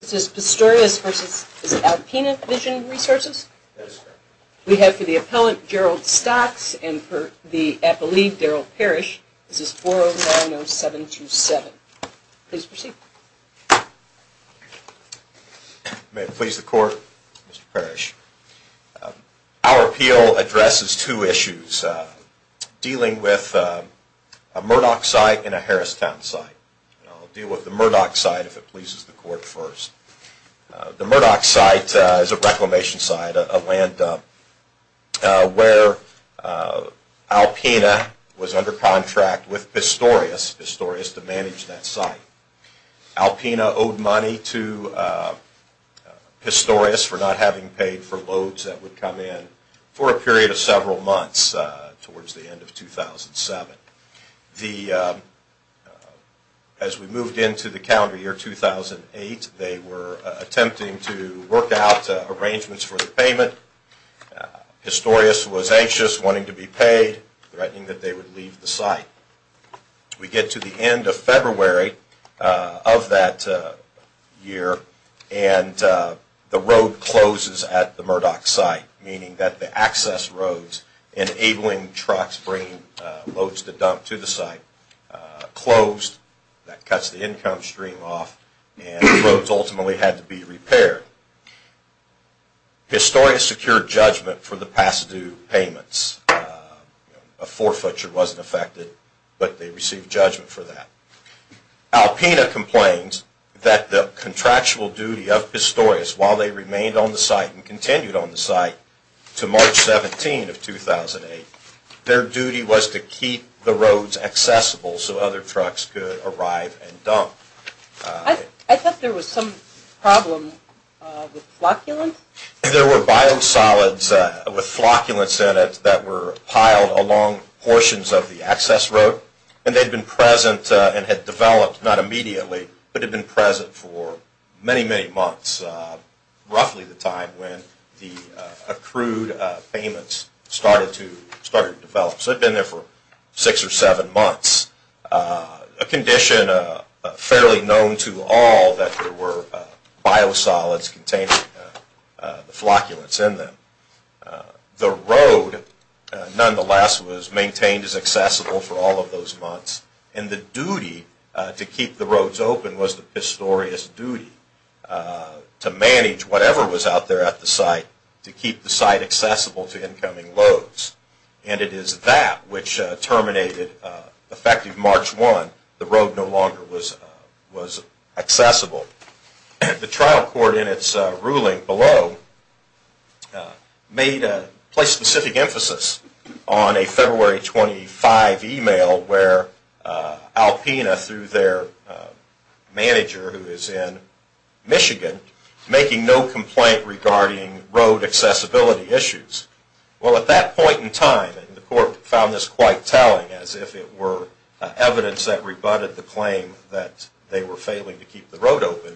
This is Pistorius v. Alpena Vision Resources. We have for the appellant, Gerald Stocks, and for the appellee, Daryl Parrish, this is 4090727. Please proceed. May it please the Court, Mr. Parrish. Our appeal addresses two issues, dealing with a Murdoch site and a Harristown site. I'll deal with the Murdoch site if it pleases the Court first. The Murdoch site is a reclamation site, a land dump, where Alpena was under contract with Pistorius to manage that site. Alpena owed money to Pistorius for not As we moved into the calendar year 2008, they were attempting to work out arrangements for the payment. Pistorius was anxious, wanting to be paid, threatening that they would leave the site. We get to the end of February of that year, and the road closes at the That cuts the income stream off, and the roads ultimately had to be repaired. Pistorius secured judgment for the Pasadu payments. A forfeiture wasn't affected, but they received judgment for that. Alpena complains that the contractual duty of Pistorius, while they arrive and dump. I thought there was some problem with flocculants? There were biosolids with flocculants in it that were piled along portions of the access road, and they'd been present and had developed, not immediately, but had been present for many, many months, roughly the time when the months. A condition fairly known to all, that there were biosolids containing the flocculants in them. The road, nonetheless, was maintained as accessible for all of those months, and the duty to keep the roads open was the Pistorius' duty to manage whatever was out there at the site to keep the site accessible to March 1, the road no longer was accessible. The trial court, in its ruling below, placed specific emphasis on a February 25 email where Alpena, through their evidence that rebutted the claim that they were failing to keep the road open,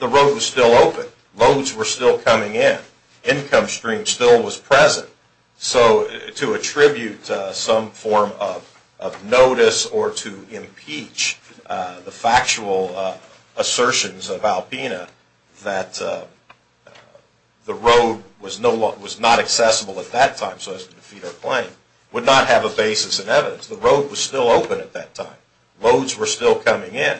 the road was still open. Loads were still coming in. Income stream still was present. So to attribute some form of notice or to impeach the factual assertions of Alpena that the road was not accessible at that time so as to defeat our claim, would not have a basis in evidence. The road was still open at that time. Loads were still coming in.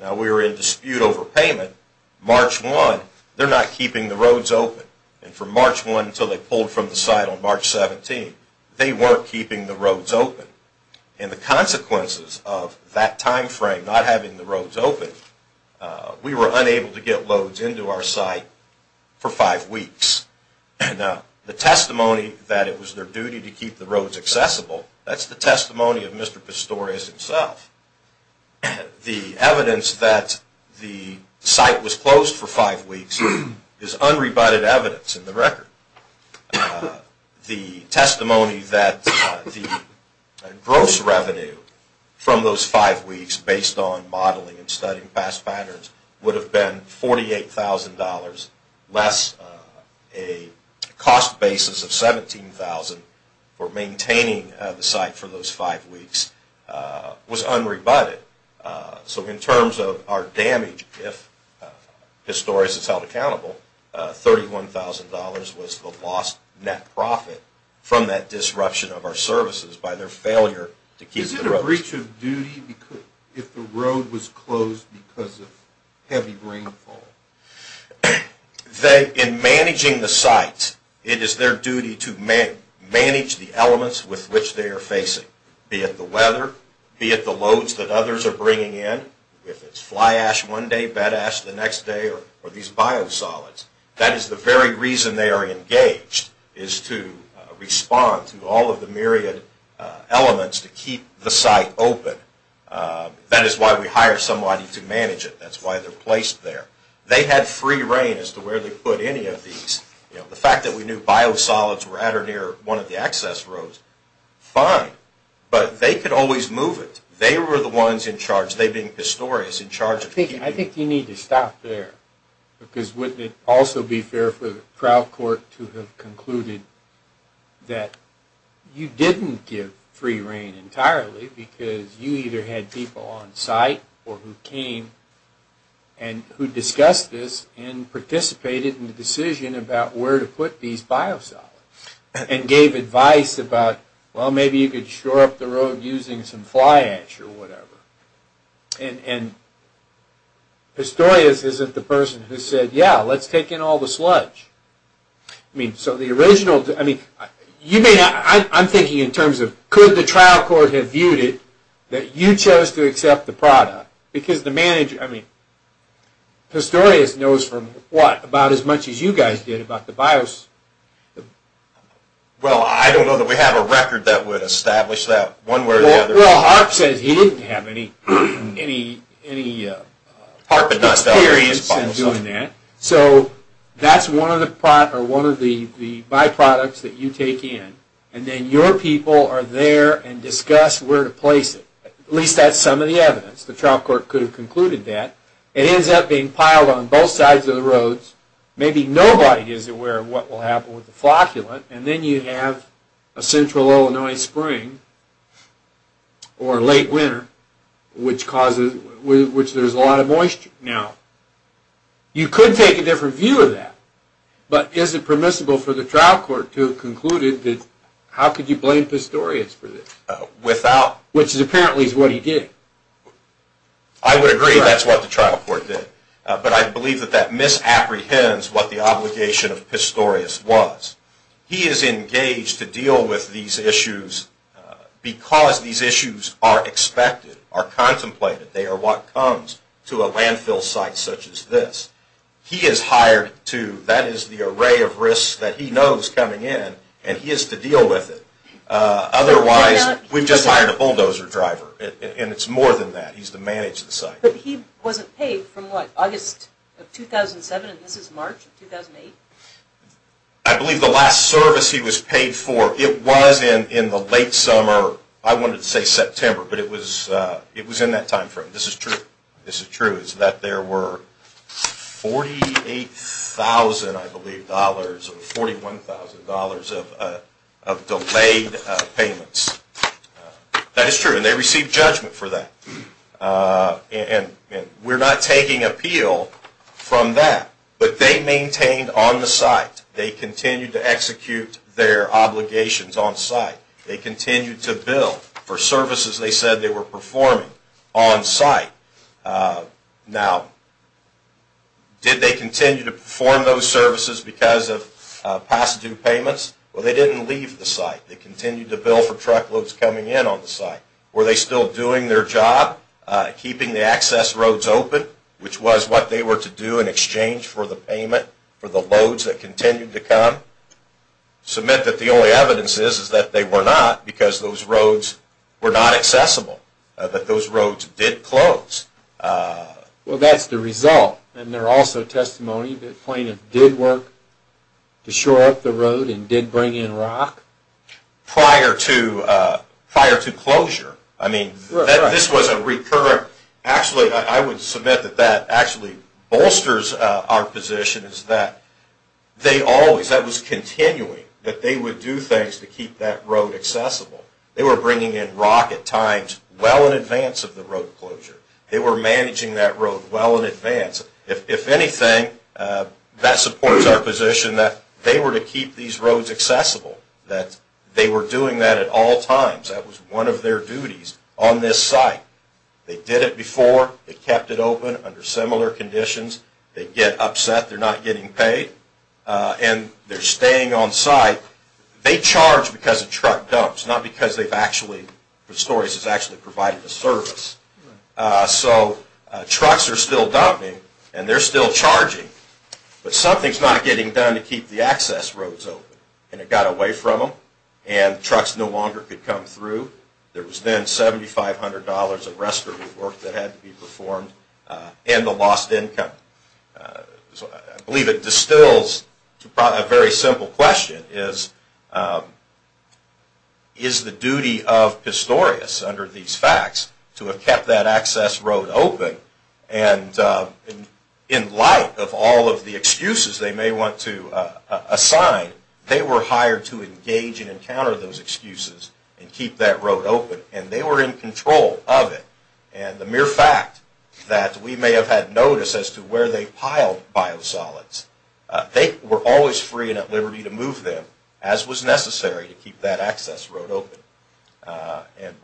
Now we were in dispute over payment. March 1, they're not keeping the roads open. And from March 1 until they pulled from the site on March 17, they weren't keeping the roads open. And the consequences of that time frame, not having the roads open, we were unable to get loads into our site for five weeks. The testimony that it was their duty to keep the roads accessible, that's the testimony of Mr. Pistorius himself. The evidence that the site was closed for five weeks is unrebutted evidence in the record. The testimony that the gross revenue from those five weeks based on was unrebutted. So in terms of our damage, if Pistorius is held accountable, $31,000 was the lost net profit from that disruption of our services by their failure to keep the roads open. Is it a breach of duty if the road was closed because of heavy rainfall? In managing the site, it is their duty to manage the elements with which they are facing, be it the weather, be it the loads that others are bringing in, if it's fly ash one day, bed ash the next day, or these They had free reign as to where they put any of these. The fact that we knew biosolids were at or near one of the access roads, fine. But they could always move it. They were the ones in charge, they being Pistorius, in charge of keeping it open. participated in the decision about where to put these biosolids and gave advice about, well, maybe you could shore up the road using some fly ash or whatever. And Pistorius isn't the person who said, yeah, let's take in all the sludge. I'm thinking in terms of, could the trial court have viewed it, that you chose to accept the product? Because the manager, I mean, Pistorius knows from what? About as much as you guys did about the biosolids. Well, I don't know that we have a record that would establish that. Well, Harp says he didn't have any experience in doing that. So that's one of the byproducts that you take in. And then your people are there and discuss where to place it. At least that's some of the evidence. The trial court could have concluded that. It ends up being piled on both sides of the roads. Maybe nobody is aware of what will happen with the flocculant. And then you have a central Illinois spring or late winter, which there's a lot of moisture. Now, you could take a different view of that. But is it permissible for the trial court to have concluded that, how could you blame Pistorius for this? Which apparently is what he did. I would agree that's what the trial court did. But I believe that that misapprehends what the obligation of Pistorius was. He is engaged to deal with these issues because these issues are expected, are contemplated, they are what comes to a landfill site such as this. He is hired to, that is the array of risks that he knows coming in and he is to deal with it. Otherwise, we've just hired a bulldozer driver and it's more than that. He's to manage the site. But he wasn't paid from what, August of 2007 and this is March of 2008? I believe the last service he was paid for, it was in the late summer, I wanted to say September, but it was in that time frame. This is true. It's that there were $48,000 I believe, $41,000 of delayed payments. That is true and they received judgment for that. And we're not taking appeal from that. But they maintained on the site. They continued to execute their obligations on site. They continued to bill for services they said they were performing on site. Now, did they continue to perform those services because of past due payments? Well, they didn't leave the site. They continued to bill for truckloads coming in on the site. Were they still doing their job, keeping the access roads open, which was what they were to do in exchange for the payment for the loads that continued to come? I would submit that the only evidence is that they were not because those roads were not accessible. But those roads did close. Well, that's the result and they're also testimony that plaintiffs did work to shore up the road and did bring in rock? Prior to closure. I mean, this was a recurrent. Actually, I would submit that that actually bolsters our position is that they always, that was continuing, that they would do things to keep that road accessible. They were bringing in rock at times well in advance of the road closure. They were managing that road well in advance. If anything, that supports our position that they were to keep these roads accessible, that they were doing that at all times. That was one of their duties on this site. They did it before. They kept it open under similar conditions. They get upset they're not getting paid and they're staying on site. They charge because a truck dumps, not because they've actually provided a service. So trucks are still dumping and they're still charging. But something's not getting done to keep the access roads open. And it got away from them and trucks no longer could come through. There was then $7,500 of restorative work that had to be performed and the lost income. I believe it distills a very simple question is, is the duty of Pistorius under these facts to have kept that access road open? And in light of all of the excuses they may want to assign, they were hired to engage and encounter those excuses and keep that road open. And they were in control of it. And the mere fact that we may have had notice as to where they piled biosolids, they were always free and at liberty to move them as was necessary to keep that access road open. And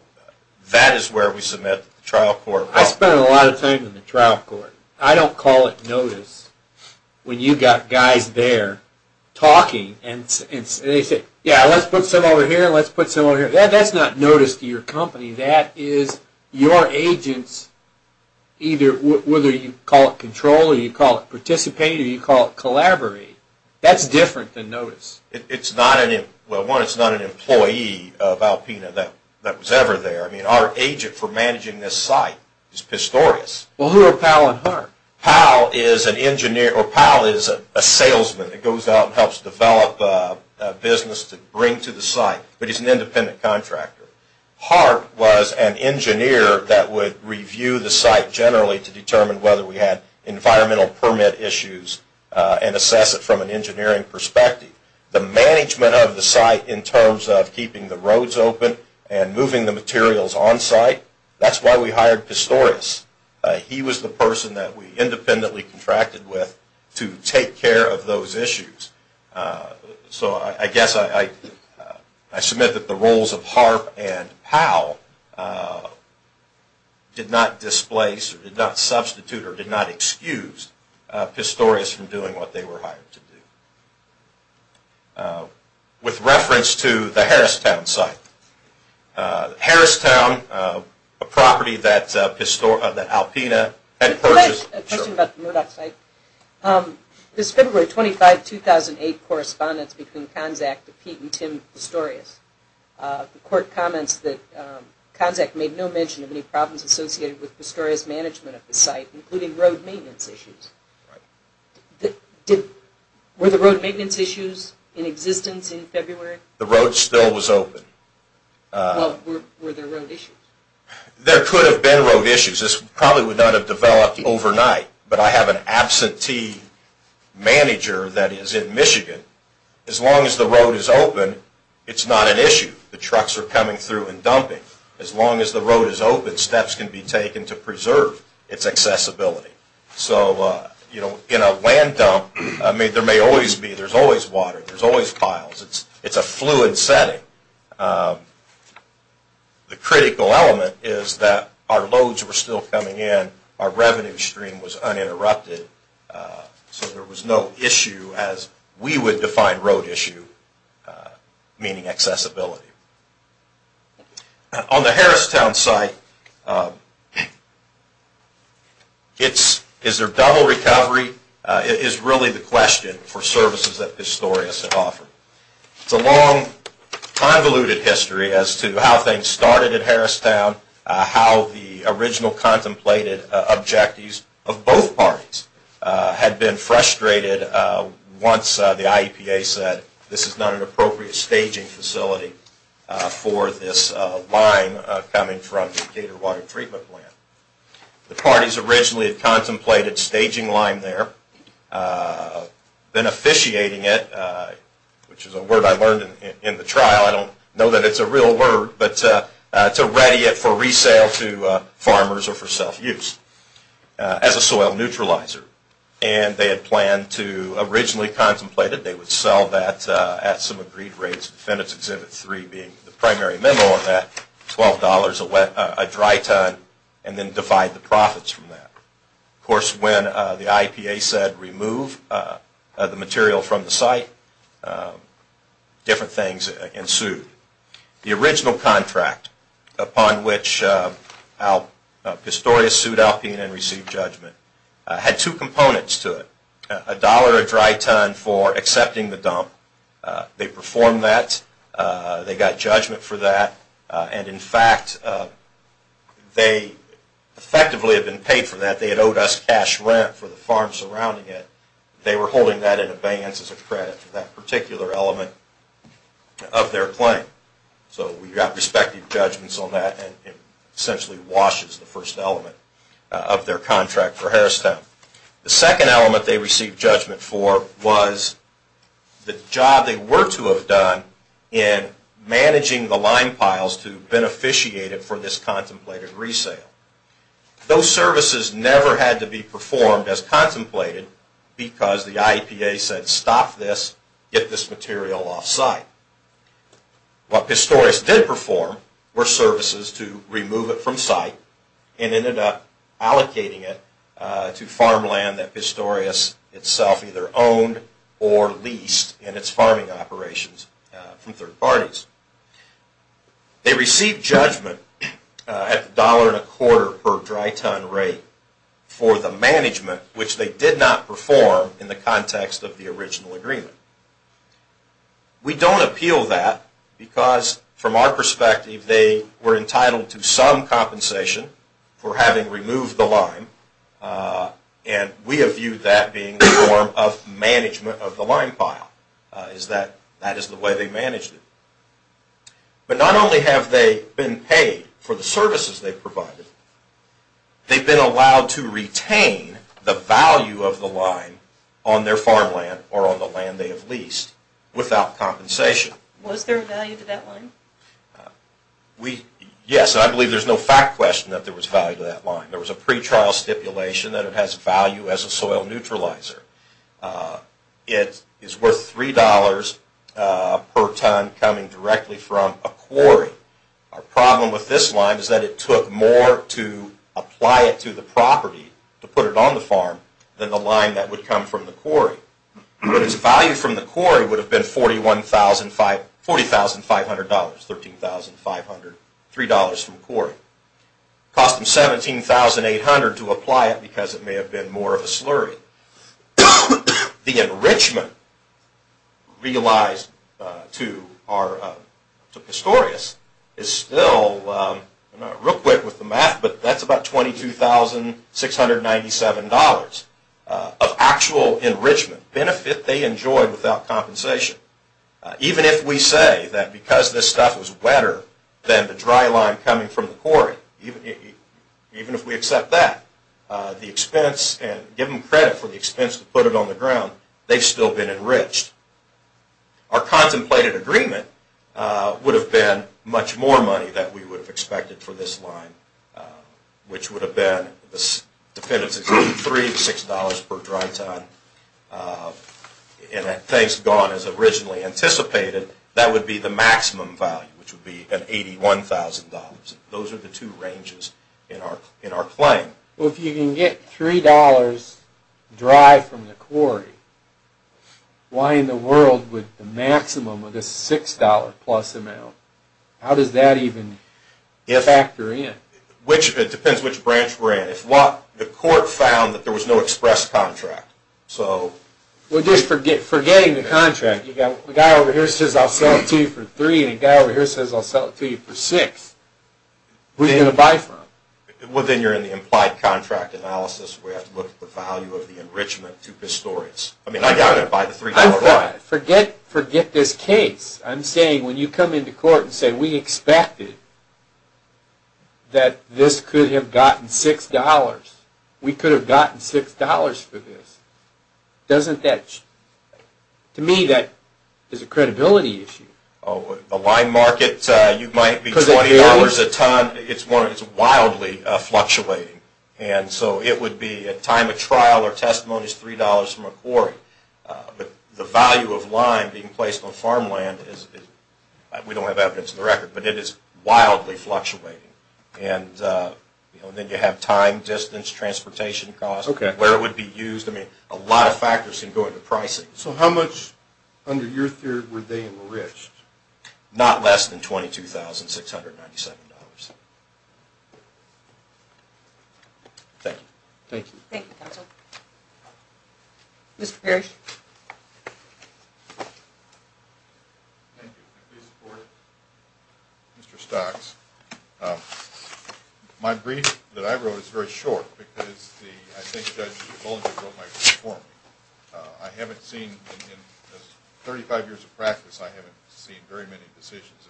that is where we submit to the trial court. I spend a lot of time in the trial court. I don't call it notice when you've got guys there talking and they say, yeah, let's put some over here, let's put some over here. That's not notice to your company. That is your agents, whether you call it control or you call it participate or you call it collaborate. That's different than notice. Well, one, it's not an employee of Alpena that was ever there. I mean, our agent for managing this site is Pistorius. Well, who are Powell and Hart? Powell is a salesman that goes out and helps develop a business to bring to the site, but he's an independent contractor. Hart was an engineer that would review the site generally to determine whether we had environmental permit issues and assess it from an engineering perspective. The management of the site in terms of keeping the roads open and moving the materials on site, that's why we hired Pistorius. He was the person that we independently contracted with to take care of those issues. So I guess I submit that the roles of Hart and Powell did not displace or did not substitute or did not excuse Pistorius from doing what they were hired to do. With reference to the Harristown site, Harristown, a property that Alpena had purchased... In the 2008 correspondence between CONZAC to Pete and Tim Pistorius, the court comments that CONZAC made no mention of any problems associated with Pistorius' management of the site, including road maintenance issues. Were the road maintenance issues in existence in February? The road still was open. Well, were there road issues? There could have been road issues. This probably would not have developed overnight, but I have an absentee manager that is in Michigan. As long as the road is open, it's not an issue. The trucks are coming through and dumping. As long as the road is open, steps can be taken to preserve its accessibility. So in a land dump, there's always water, there's always piles. It's a fluid setting. The critical element is that our loads were still coming in, our revenue stream was uninterrupted, so there was no issue as we would define road issue, meaning accessibility. On the Harristown site, is there double recovery? It is really the question for services that Pistorius had offered. It's a long, convoluted history as to how things started at Harristown, how the original contemplated objectives of both parties had been frustrated once the IEPA said, this is not an appropriate staging facility for this line coming from the Gator Water Treatment Plant. The parties originally had contemplated staging line there, then officiating it, which is a word I learned in the trial. I don't know that it's a real word, but to ready it for resale to farmers or for self-use as a soil neutralizer. And they had planned to originally contemplate it. They would sell that at some agreed rates, defendant's exhibit 3 being the primary memo of that, $12 a dry ton, and then divide the profits from that. Of course, when the IEPA said remove the material from the site, different things ensued. The original contract upon which Pistorius sued Alpena and received judgment had two components to it. A dollar a dry ton for accepting the dump. They performed that. They got judgment for that. And in fact, they effectively had been paid for that. They had owed us cash rent for the farm surrounding it. They were holding that in abeyance as a credit for that particular element of their claim. So we got respective judgments on that, and it essentially washes the first element of their contract for Harristown. The second element they received judgment for was the job they were to have done in managing the lime piles to beneficiate it for this contemplated resale. Those services never had to be performed as contemplated because the IEPA said stop this, get this material off site. What Pistorius did perform were services to remove it from site and ended up allocating it to farmland that Pistorius itself either owned or leased in its farming operations from third parties. They received judgment at the $1.25 per dry ton rate for the management which they did not perform in the context of the original agreement. We don't appeal that because from our perspective they were entitled to some compensation for having removed the lime, and we have viewed that being a form of management of the lime pile. That is the way they managed it. But not only have they been paid for the services they provided, they've been allowed to retain the value of the lime on their farmland or on the land they have leased without compensation. Was there value to that lime? Yes, and I believe there's no fact question that there was value to that lime. There was a pretrial stipulation that it has value as a soil neutralizer. It is worth $3 per ton coming directly from a quarry. Our problem with this lime is that it took more to apply it to the property to put it on the farm than the lime that would come from the quarry. Its value from the quarry would have been $40,500, $13,500, $3 from the quarry. It cost them $17,800 to apply it because it may have been more of a slurry. The enrichment realized to Pistorius is still, real quick with the math, but that's about $22,697 of actual enrichment benefit they enjoyed without compensation. Even if we say that because this stuff was wetter than the dry lime coming from the quarry, even if we accept that, the expense and give them credit for the expense to put it on the ground, they've still been enriched. Our contemplated agreement would have been much more money than we would have expected for this lime, which would have been $3 to $6 per dry ton. Things gone as originally anticipated, that would be the maximum value, which would be $81,000. Those are the two ranges in our claim. If you can get $3 dry from the quarry, why in the world would the maximum of this $6 plus amount, how does that even factor in? It depends which branch we're in. If what, the court found that there was no express contract. Well, just forgetting the contract. The guy over here says I'll sell it to you for $3, and the guy over here says I'll sell it to you for $6. Who are you going to buy from? Well, then you're in the implied contract analysis where you have to look at the value of the enrichment to Pistorius. I mean, I'm not going to buy the $3 lime. Forget this case. I'm saying when you come into court and say we expected that this could have gotten $6. We could have gotten $6 for this. Doesn't that, to me, that is a credibility issue. The lime market, you might be $20 a ton. It's wildly fluctuating. And so it would be at time of trial or testimony is $3 from a quarry. But the value of lime being placed on farmland is, we don't have evidence of the record, but it is wildly fluctuating. And then you have time, distance, transportation costs, where it would be used. I mean, a lot of factors can go into pricing. So how much, under your theory, were they enriched? Not less than $22,697. Thank you. Thank you. Thank you, counsel. Mr. Parrish. Thank you. I fully support it. Mr. Stocks. My brief that I wrote is very short because I think Judge Bollinger wrote my brief for me. I haven't seen, in 35 years of practice, I haven't seen very many decisions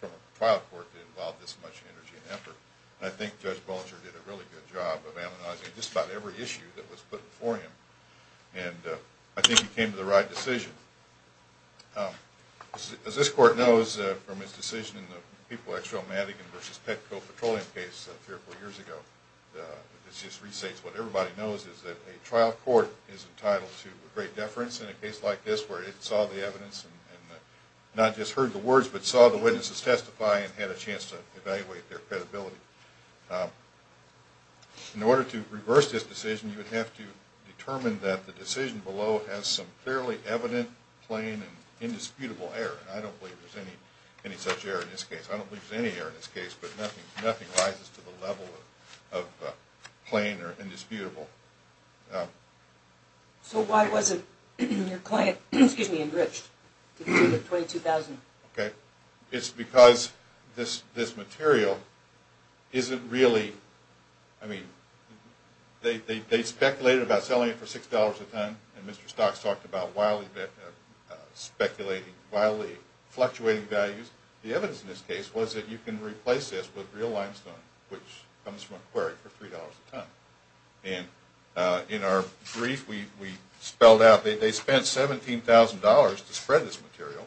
from a trial court that involve this much energy and effort. And I think Judge Bollinger did a really good job of analyzing just about every issue that was put before him. And I think he came to the right decision. As this court knows from its decision in the People-X-Rail-Madigan v. Petco Petroleum case a few or four years ago, this just restates what everybody knows is that a trial court is entitled to great deference in a case like this where it saw the evidence and not just heard the words but saw the witnesses testify and had a chance to evaluate their credibility. In order to reverse this decision, you would have to determine that the decision below has some fairly evident, plain, and indisputable error. And I don't believe there's any such error in this case. I don't believe there's any error in this case, but nothing rises to the level of plain or indisputable. So why wasn't your client enriched to the tune of $22,000? It's because this material isn't really – I mean, they speculated about selling it for $6 a ton, and Mr. Stocks talked about wildly speculating, wildly fluctuating values. The evidence in this case was that you can replace this with real limestone, which comes from a quarry, for $3 a ton. And in our brief, we spelled out that they spent $17,000 to spread this material,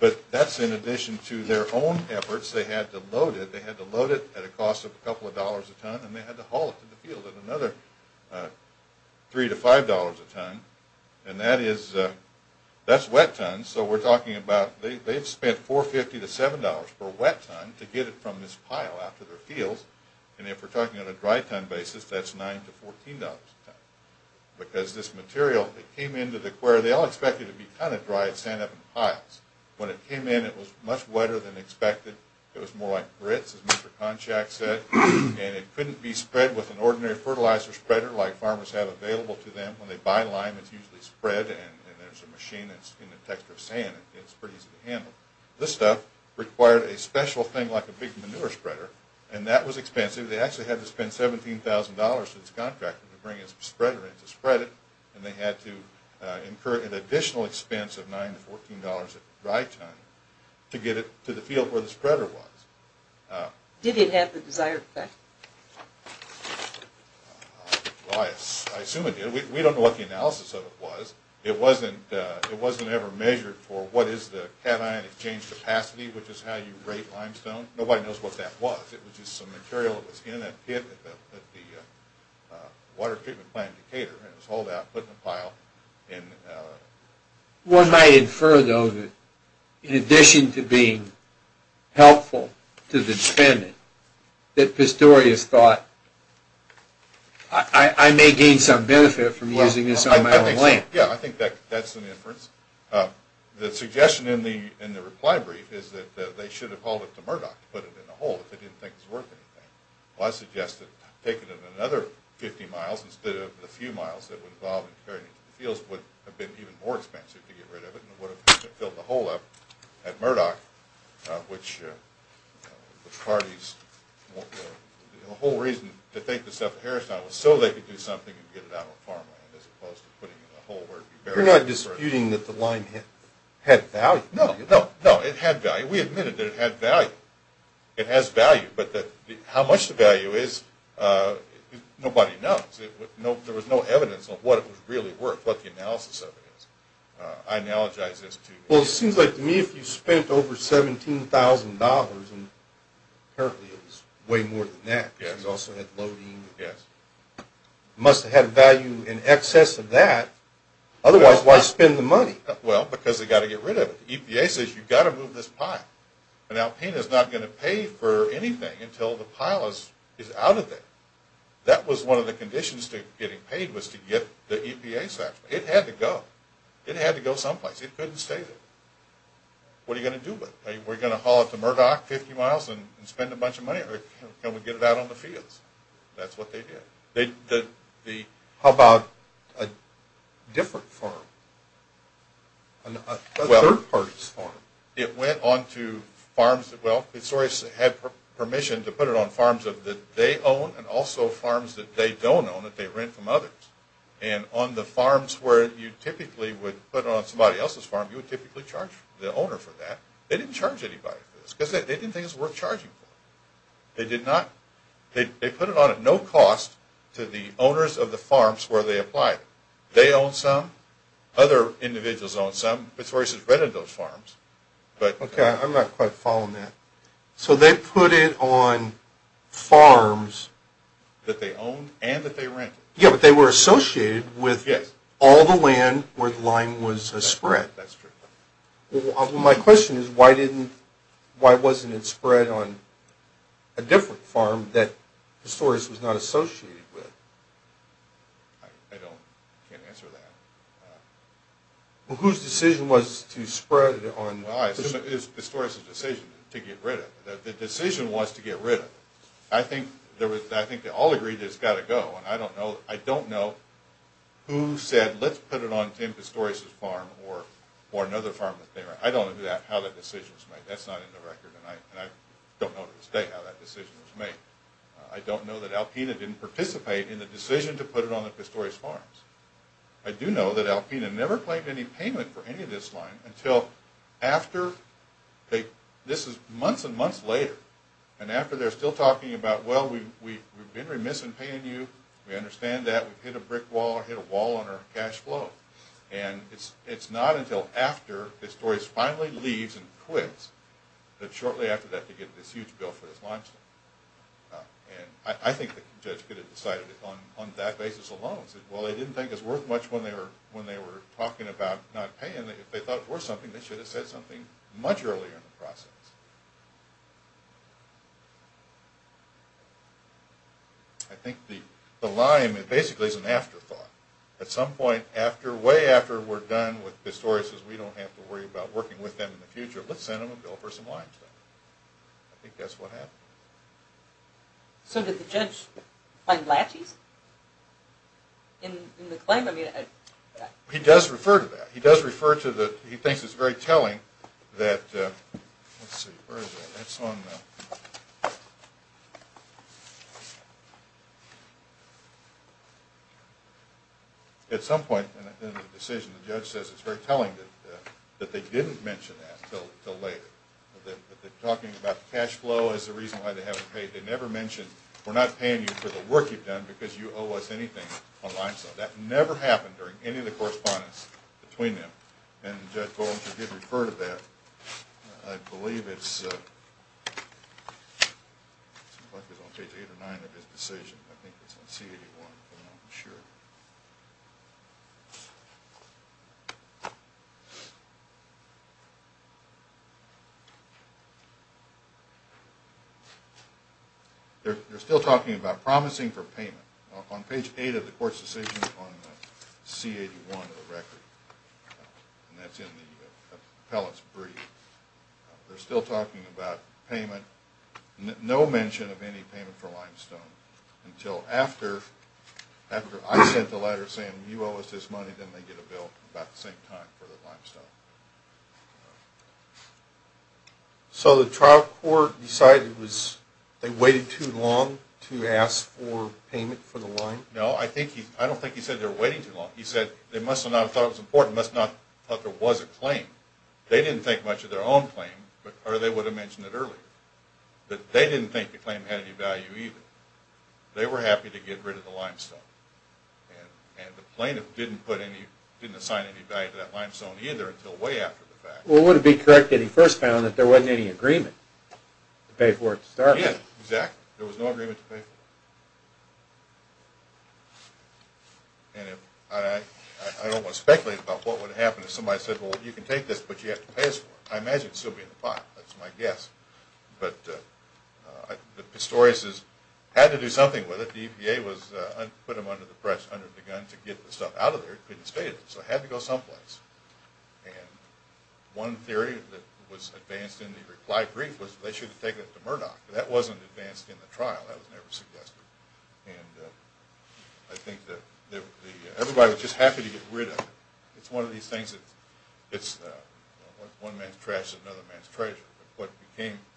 but that's in addition to their own efforts. They had to load it. They had to load it at a cost of a couple of dollars a ton, and they had to haul it to the field at another $3 to $5 a ton. And that's wet ton, so we're talking about – they've spent $4.50 to $7 per wet ton to get it from this pile out to their fields. And if we're talking on a dry ton basis, that's $9 to $14 a ton. Because this material, it came into the quarry – they all expected it to be kind of dry. It sat up in piles. When it came in, it was much wetter than expected. It was more like grits, as Mr. Konchak said, and it couldn't be spread with an ordinary fertilizer spreader like farmers have available to them. When they buy lime, it's usually spread, and there's a machine that's in the texture of sand. It's pretty easy to handle. This stuff required a special thing like a big manure spreader, and that was expensive. They actually had to spend $17,000 to this contractor to bring a spreader in to spread it, and they had to incur an additional expense of $9 to $14 a dry ton to get it to the field where the spreader was. Did it have the desired effect? I assume it did. We don't know what the analysis of it was. It wasn't ever measured for what is the cation exchange capacity, which is how you rate limestone. Nobody knows what that was. It was just some material that was in a pit at the water treatment plant in Decatur, and it was hauled out and put in a pile. One might infer, though, that in addition to being helpful to the dependent, that Pistorius thought, I may gain some benefit from using this on my own land. Yeah, I think that's an inference. The suggestion in the reply brief is that they should have hauled it to Murdoch to put it in a hole if they didn't think it was worth anything. Well, I suggest that taking it another 50 miles instead of the few miles that would involve preparing it for the fields would have been even more expensive to get rid of it and would have filled the hole up at Murdoch, which the parties, the whole reason to think this up at Harristown was so they could do something and get it out on farmland as opposed to putting it in a hole where it would be buried. You're not disputing that the lime had value, are you? No, no, it had value. We admitted that it had value. It has value, but how much the value is, nobody knows. There was no evidence of what it was really worth, what the analysis of it is. I analogize this to you. Well, it seems like to me if you spent over $17,000, and apparently it was way more than that, because it also had loading, it must have had value in excess of that. Otherwise, why spend the money? Well, because they've got to get rid of it. The EPA says you've got to move this pile. An alpina is not going to pay for anything until the pile is out of there. That was one of the conditions to getting paid was to get the EPA's action. It had to go. It had to go someplace. It couldn't stay there. What are you going to do with it? Are you going to haul it to Murdoch 50 miles and spend a bunch of money, or can we get it out on the fields? That's what they did. How about a different farm? A third party's farm? It went on to farms that, well, historians had permission to put it on farms that they own and also farms that they don't own, that they rent from others. And on the farms where you typically would put it on somebody else's farm, you would typically charge the owner for that. They didn't charge anybody for this, because they didn't think it was worth charging for. They did not. They put it on at no cost to the owners of the farms where they apply it. They own some. Other individuals own some. Historians have read of those farms. Okay, I'm not quite following that. So they put it on farms that they own and that they rent. Yeah, but they were associated with all the land where the lime was spread. That's true. Well, my question is, why wasn't it spread on a different farm that historians was not associated with? I can't answer that. Well, whose decision was to spread it on? Well, I assume it was historians' decision to get rid of it. The decision was to get rid of it. I think they all agreed that it's got to go, and I don't know who said, let's put it on Tim Pistorius' farm or another farm that they rent. I don't know how that decision was made. That's not in the record, and I don't know to this day how that decision was made. I don't know that Alpena didn't participate in the decision to put it on the Pistorius farms. I do know that Alpena never claimed any payment for any of this lime until after, this is months and months later, and after they're still talking about, well, we've been remiss in paying you. We understand that. We've hit a brick wall or hit a wall on our cash flow. And it's not until after Pistorius finally leaves and quits that shortly after that they get this huge bill for this limestone. And I think the judge could have decided it on that basis alone. Well, they didn't think it was worth much when they were talking about not paying. If they thought it was worth something, they should have said something much earlier in the process. I think the lime basically is an afterthought. At some point way after we're done with Pistorius, we don't have to worry about working with them in the future. Let's send them a bill for some limestone. I think that's what happened. So did the judge find laches in the claim? He does refer to that. He does refer to that. He thinks it's very telling that at some point in the decision, the judge says it's very telling that they didn't mention that until later, that they're talking about the cash flow as the reason why they haven't paid. They never mentioned, we're not paying you for the work you've done because you owe us anything on limestone. That never happened during any of the correspondence between them, and Judge Goldinger did refer to that. I believe it's on page 8 or 9 of his decision. I think it's on C81, but I'm not sure. They're still talking about promising for payment. On page 8 of the court's decision on C81 of the record, and that's in the appellate's brief, they're still talking about payment, no mention of any payment for limestone, until after I sent the letter saying you owe us this money, then they get a bill about the same time for the limestone. So the trial court decided they waited too long to ask for payment for the lime? No, I don't think he said they were waiting too long. He said they must not have thought it was important, must not have thought there was a claim. They didn't think much of their own claim, or they would have mentioned it earlier. But they didn't think the claim had any value either. They were happy to get rid of the limestone, and the plaintiff didn't assign any value to that limestone either until way after the fact. Well, would it be correct that he first found that there wasn't any agreement to pay for it to start with? Yeah, exactly. There was no agreement to pay for it. And I don't want to speculate about what would happen if somebody said, well, you can take this, but you have to pay us for it. I imagine it would still be in the pot. That's my guess. But the Pistoriuses had to do something with it. The EPA put them under the press, under the gun, to get the stuff out of there. So it had to go someplace. And one theory that was advanced in the reply brief was they should have taken it to Murdoch. That wasn't advanced in the trial. That was never suggested. And I think that everybody was just happy to get rid of it. It's one of these things that one man's trash is another man's treasure. What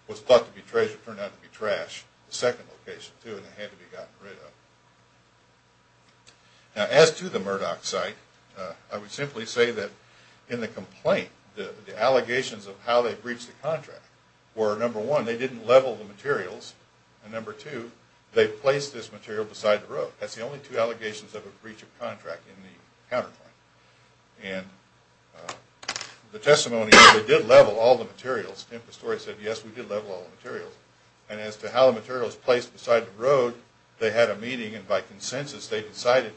was thought to be treasure turned out to be trash, the second location too, and it had to be gotten rid of. Now as to the Murdoch site, I would simply say that in the complaint, the allegations of how they breached the contract were, number one, they didn't level the materials, and number two, they placed this material beside the road. That's the only two allegations of a breach of contract in the counterclaim. And the testimony is they did level all the materials. The Pistorius said, yes, we did level all the materials. And as to how the material was placed beside the road, they had a meeting and by consensus they decided,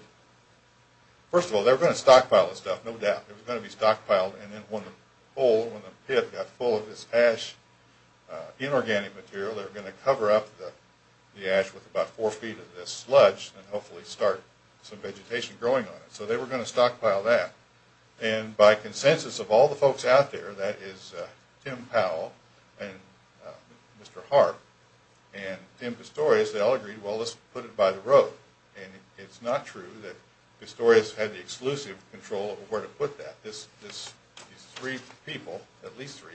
first of all, they were going to stockpile this stuff, no doubt. It was going to be stockpiled and then when the pit got full of this ash, inorganic material, they were going to cover up the ash with about four feet of this sludge and hopefully start some vegetation growing on it. So they were going to stockpile that. And by consensus of all the folks out there, that is Tim Powell and Mr. Hart and Tim Pistorius, they all agreed, well, let's put it by the road. And it's not true that Pistorius had the exclusive control over where to put that. These three people, at least three,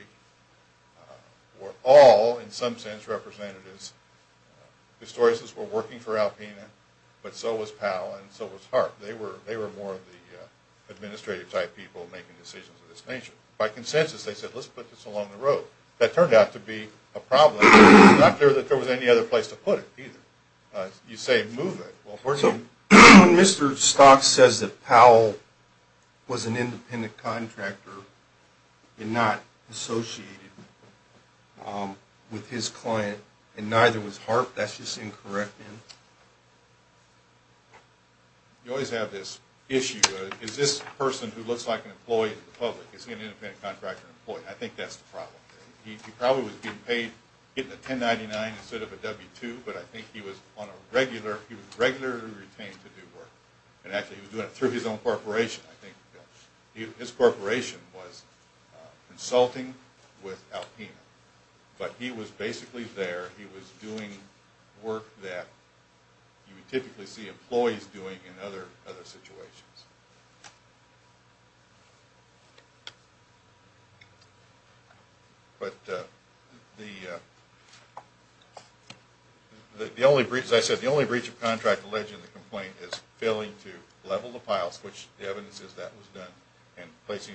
were all, in some sense, representatives. Pistorius' were working for Alpena, but so was Powell and so was Hart. They were more of the administrative type people making decisions of this nature. By consensus, they said, let's put this along the road. So that turned out to be a problem. It's not clear that there was any other place to put it either. You say move it. So when Mr. Stock says that Powell was an independent contractor and not associated with his client and neither was Hart, that's just incorrect? You always have this issue. Is this person who looks like an employee to the public? I think that's the problem. He probably was getting paid $10.99 instead of a W-2, but I think he was regularly retained to do work. And actually he was doing it through his own corporation. His corporation was consulting with Alpena. But he was basically there. He was doing work that you would typically see employees doing in other situations. As I said, the only breach of contract alleged in the complaint is failing to level the piles, which the evidence is that was done, and placing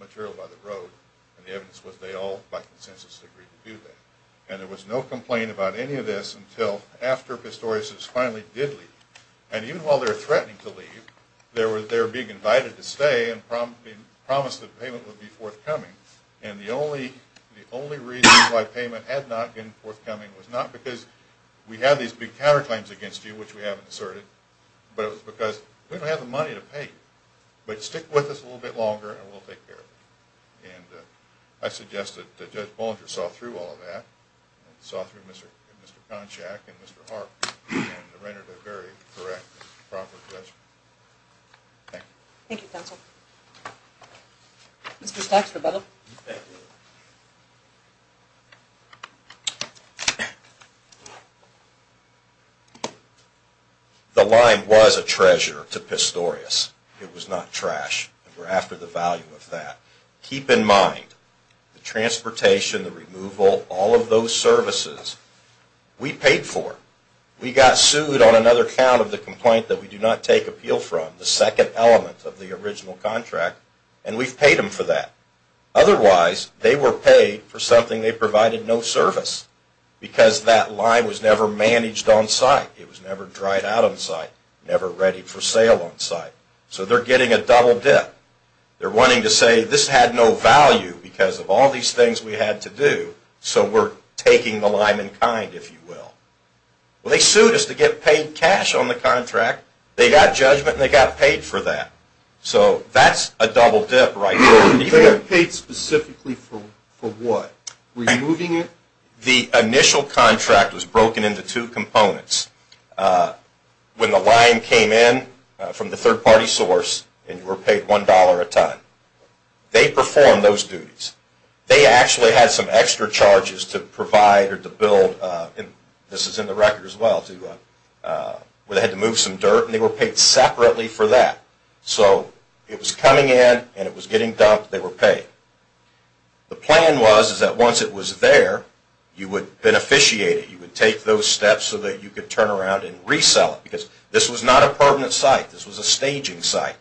material by the road. And the evidence was they all, by consensus, agreed to do that. And there was no complaint about any of this until after Pistorius finally did leave. And even while they were threatening to leave, they were being invited to stay and promised that payment would be forthcoming. And the only reason why payment had not been forthcoming was not because we had these big counterclaims against you, which we haven't asserted, but it was because we don't have the money to pay you. But stick with us a little bit longer and we'll take care of it. And I suggest that Judge Bolinger saw through all of that, saw through Mr. Konchak and Mr. Harp, and rendered a very correct and proper judgment. Thank you. Thank you, counsel. Mr. Stacks, rebuttal. The line was a treasure to Pistorius. It was not trash. We're after the value of that. Keep in mind, the transportation, the removal, all of those services, we paid for. We got sued on another count of the complaint that we do not take appeal from, the second element of the original contract, and we've paid them for that. Otherwise, they were paid for something they provided no service, because that line was never managed on site. It was never dried out on site, never ready for sale on site. So they're getting a double dip. They're wanting to say, this had no value because of all these things we had to do, so we're taking the line in kind, if you will. Well, they sued us to get paid cash on the contract. They got judgment and they got paid for that. So that's a double dip right there. They were paid specifically for what? Removing it? The initial contract was broken into two components. When the line came in from the third-party source and you were paid $1 a ton, they performed those duties. They actually had some extra charges to provide or to build, and this is in the record as well, where they had to move some dirt, and they were paid separately for that. So it was coming in and it was getting dumped. They were paid. The plan was that once it was there, you would beneficiate it. You would take those steps so that you could turn around and resell it because this was not a permanent site. This was a staging site.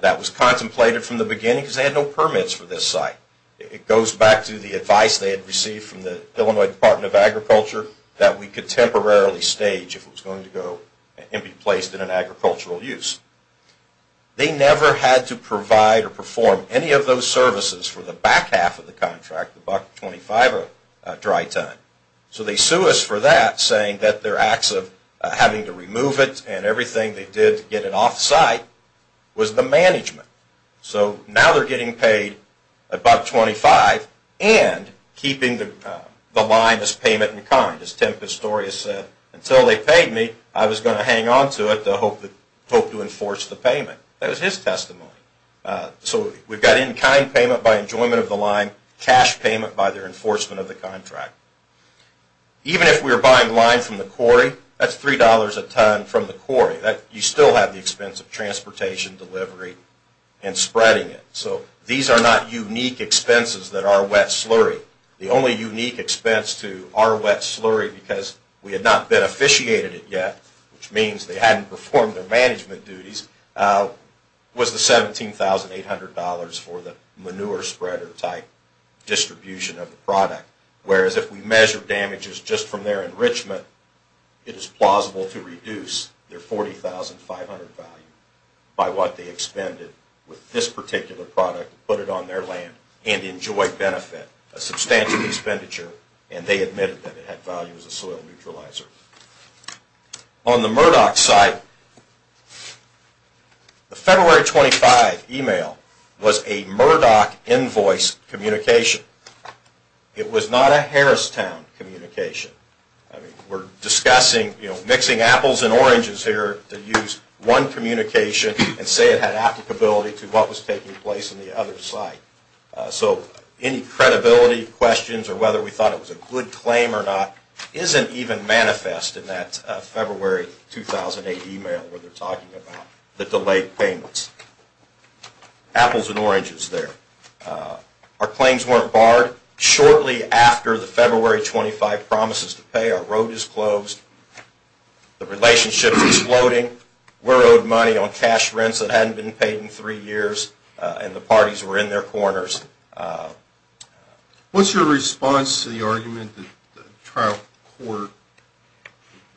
That was contemplated from the beginning because they had no permits for this site. It goes back to the advice they had received from the Illinois Department of Agriculture that we could temporarily stage if it was going to go and be placed in an agricultural use. They never had to provide or perform any of those services for the back half of the contract, the $1.25 a dry ton. So they sue us for that, saying that their acts of having to remove it and everything they did to get it off-site was the management. So now they're getting paid $1.25 and keeping the line as payment in kind. As Tim Pistorius said, until they paid me, I was going to hang on to it to hope to enforce the payment. That was his testimony. So we've got in-kind payment by enjoyment of the line, cash payment by their enforcement of the contract. Even if we were buying line from the quarry, that's $3 a ton from the quarry. You still have the expense of transportation, delivery, and spreading it. So these are not unique expenses that are wet slurry. The only unique expense to our wet slurry because we had not beneficiated it yet, which means they hadn't performed their management duties, was the $17,800 for the manure spreader type distribution of the product. Whereas if we measure damages just from their enrichment, it is plausible to reduce their $40,500 value by what they expended with this particular product, put it on their land, and enjoy benefit. A substantial expenditure, and they admitted that it had value as a soil neutralizer. On the Murdoch site, the February 25 email was a Murdoch invoice communication. It was not a Harristown communication. We're discussing mixing apples and oranges here to use one communication and say it had applicability to what was taking place in the other site. So any credibility questions or whether we thought it was a good claim or not isn't even manifest in that February 2008 email where they're talking about the delayed payments. Apples and oranges there. Our claims weren't barred. Shortly after the February 25 promises to pay, our road is closed. The relationship is exploding. We're owed money on cash rents that hadn't been paid in three years, and the parties were in their corners. What's your response to the argument that the trial court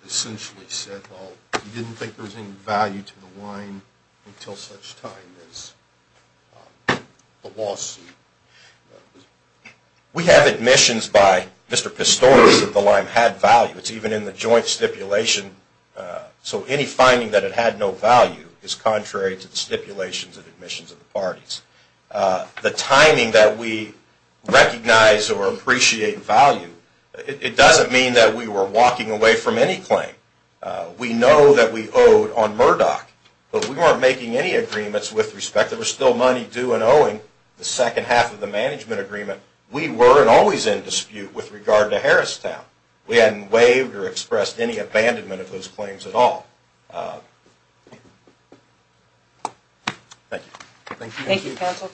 essentially said, well, you didn't think there was any value to the lime until such time as the lawsuit? We have admissions by Mr. Pistorius that the lime had value. It's even in the joint stipulation. So any finding that it had no value is contrary to the stipulations and admissions of the parties. The timing that we recognize or appreciate value, it doesn't mean that we were walking away from any claim. We know that we owed on Murdoch, but we weren't making any agreements with respect. There was still money due and owing the second half of the management agreement. We were always in dispute with regard to Harristown. We hadn't waived or expressed any abandonment of those claims at all. Thank you. Thank you.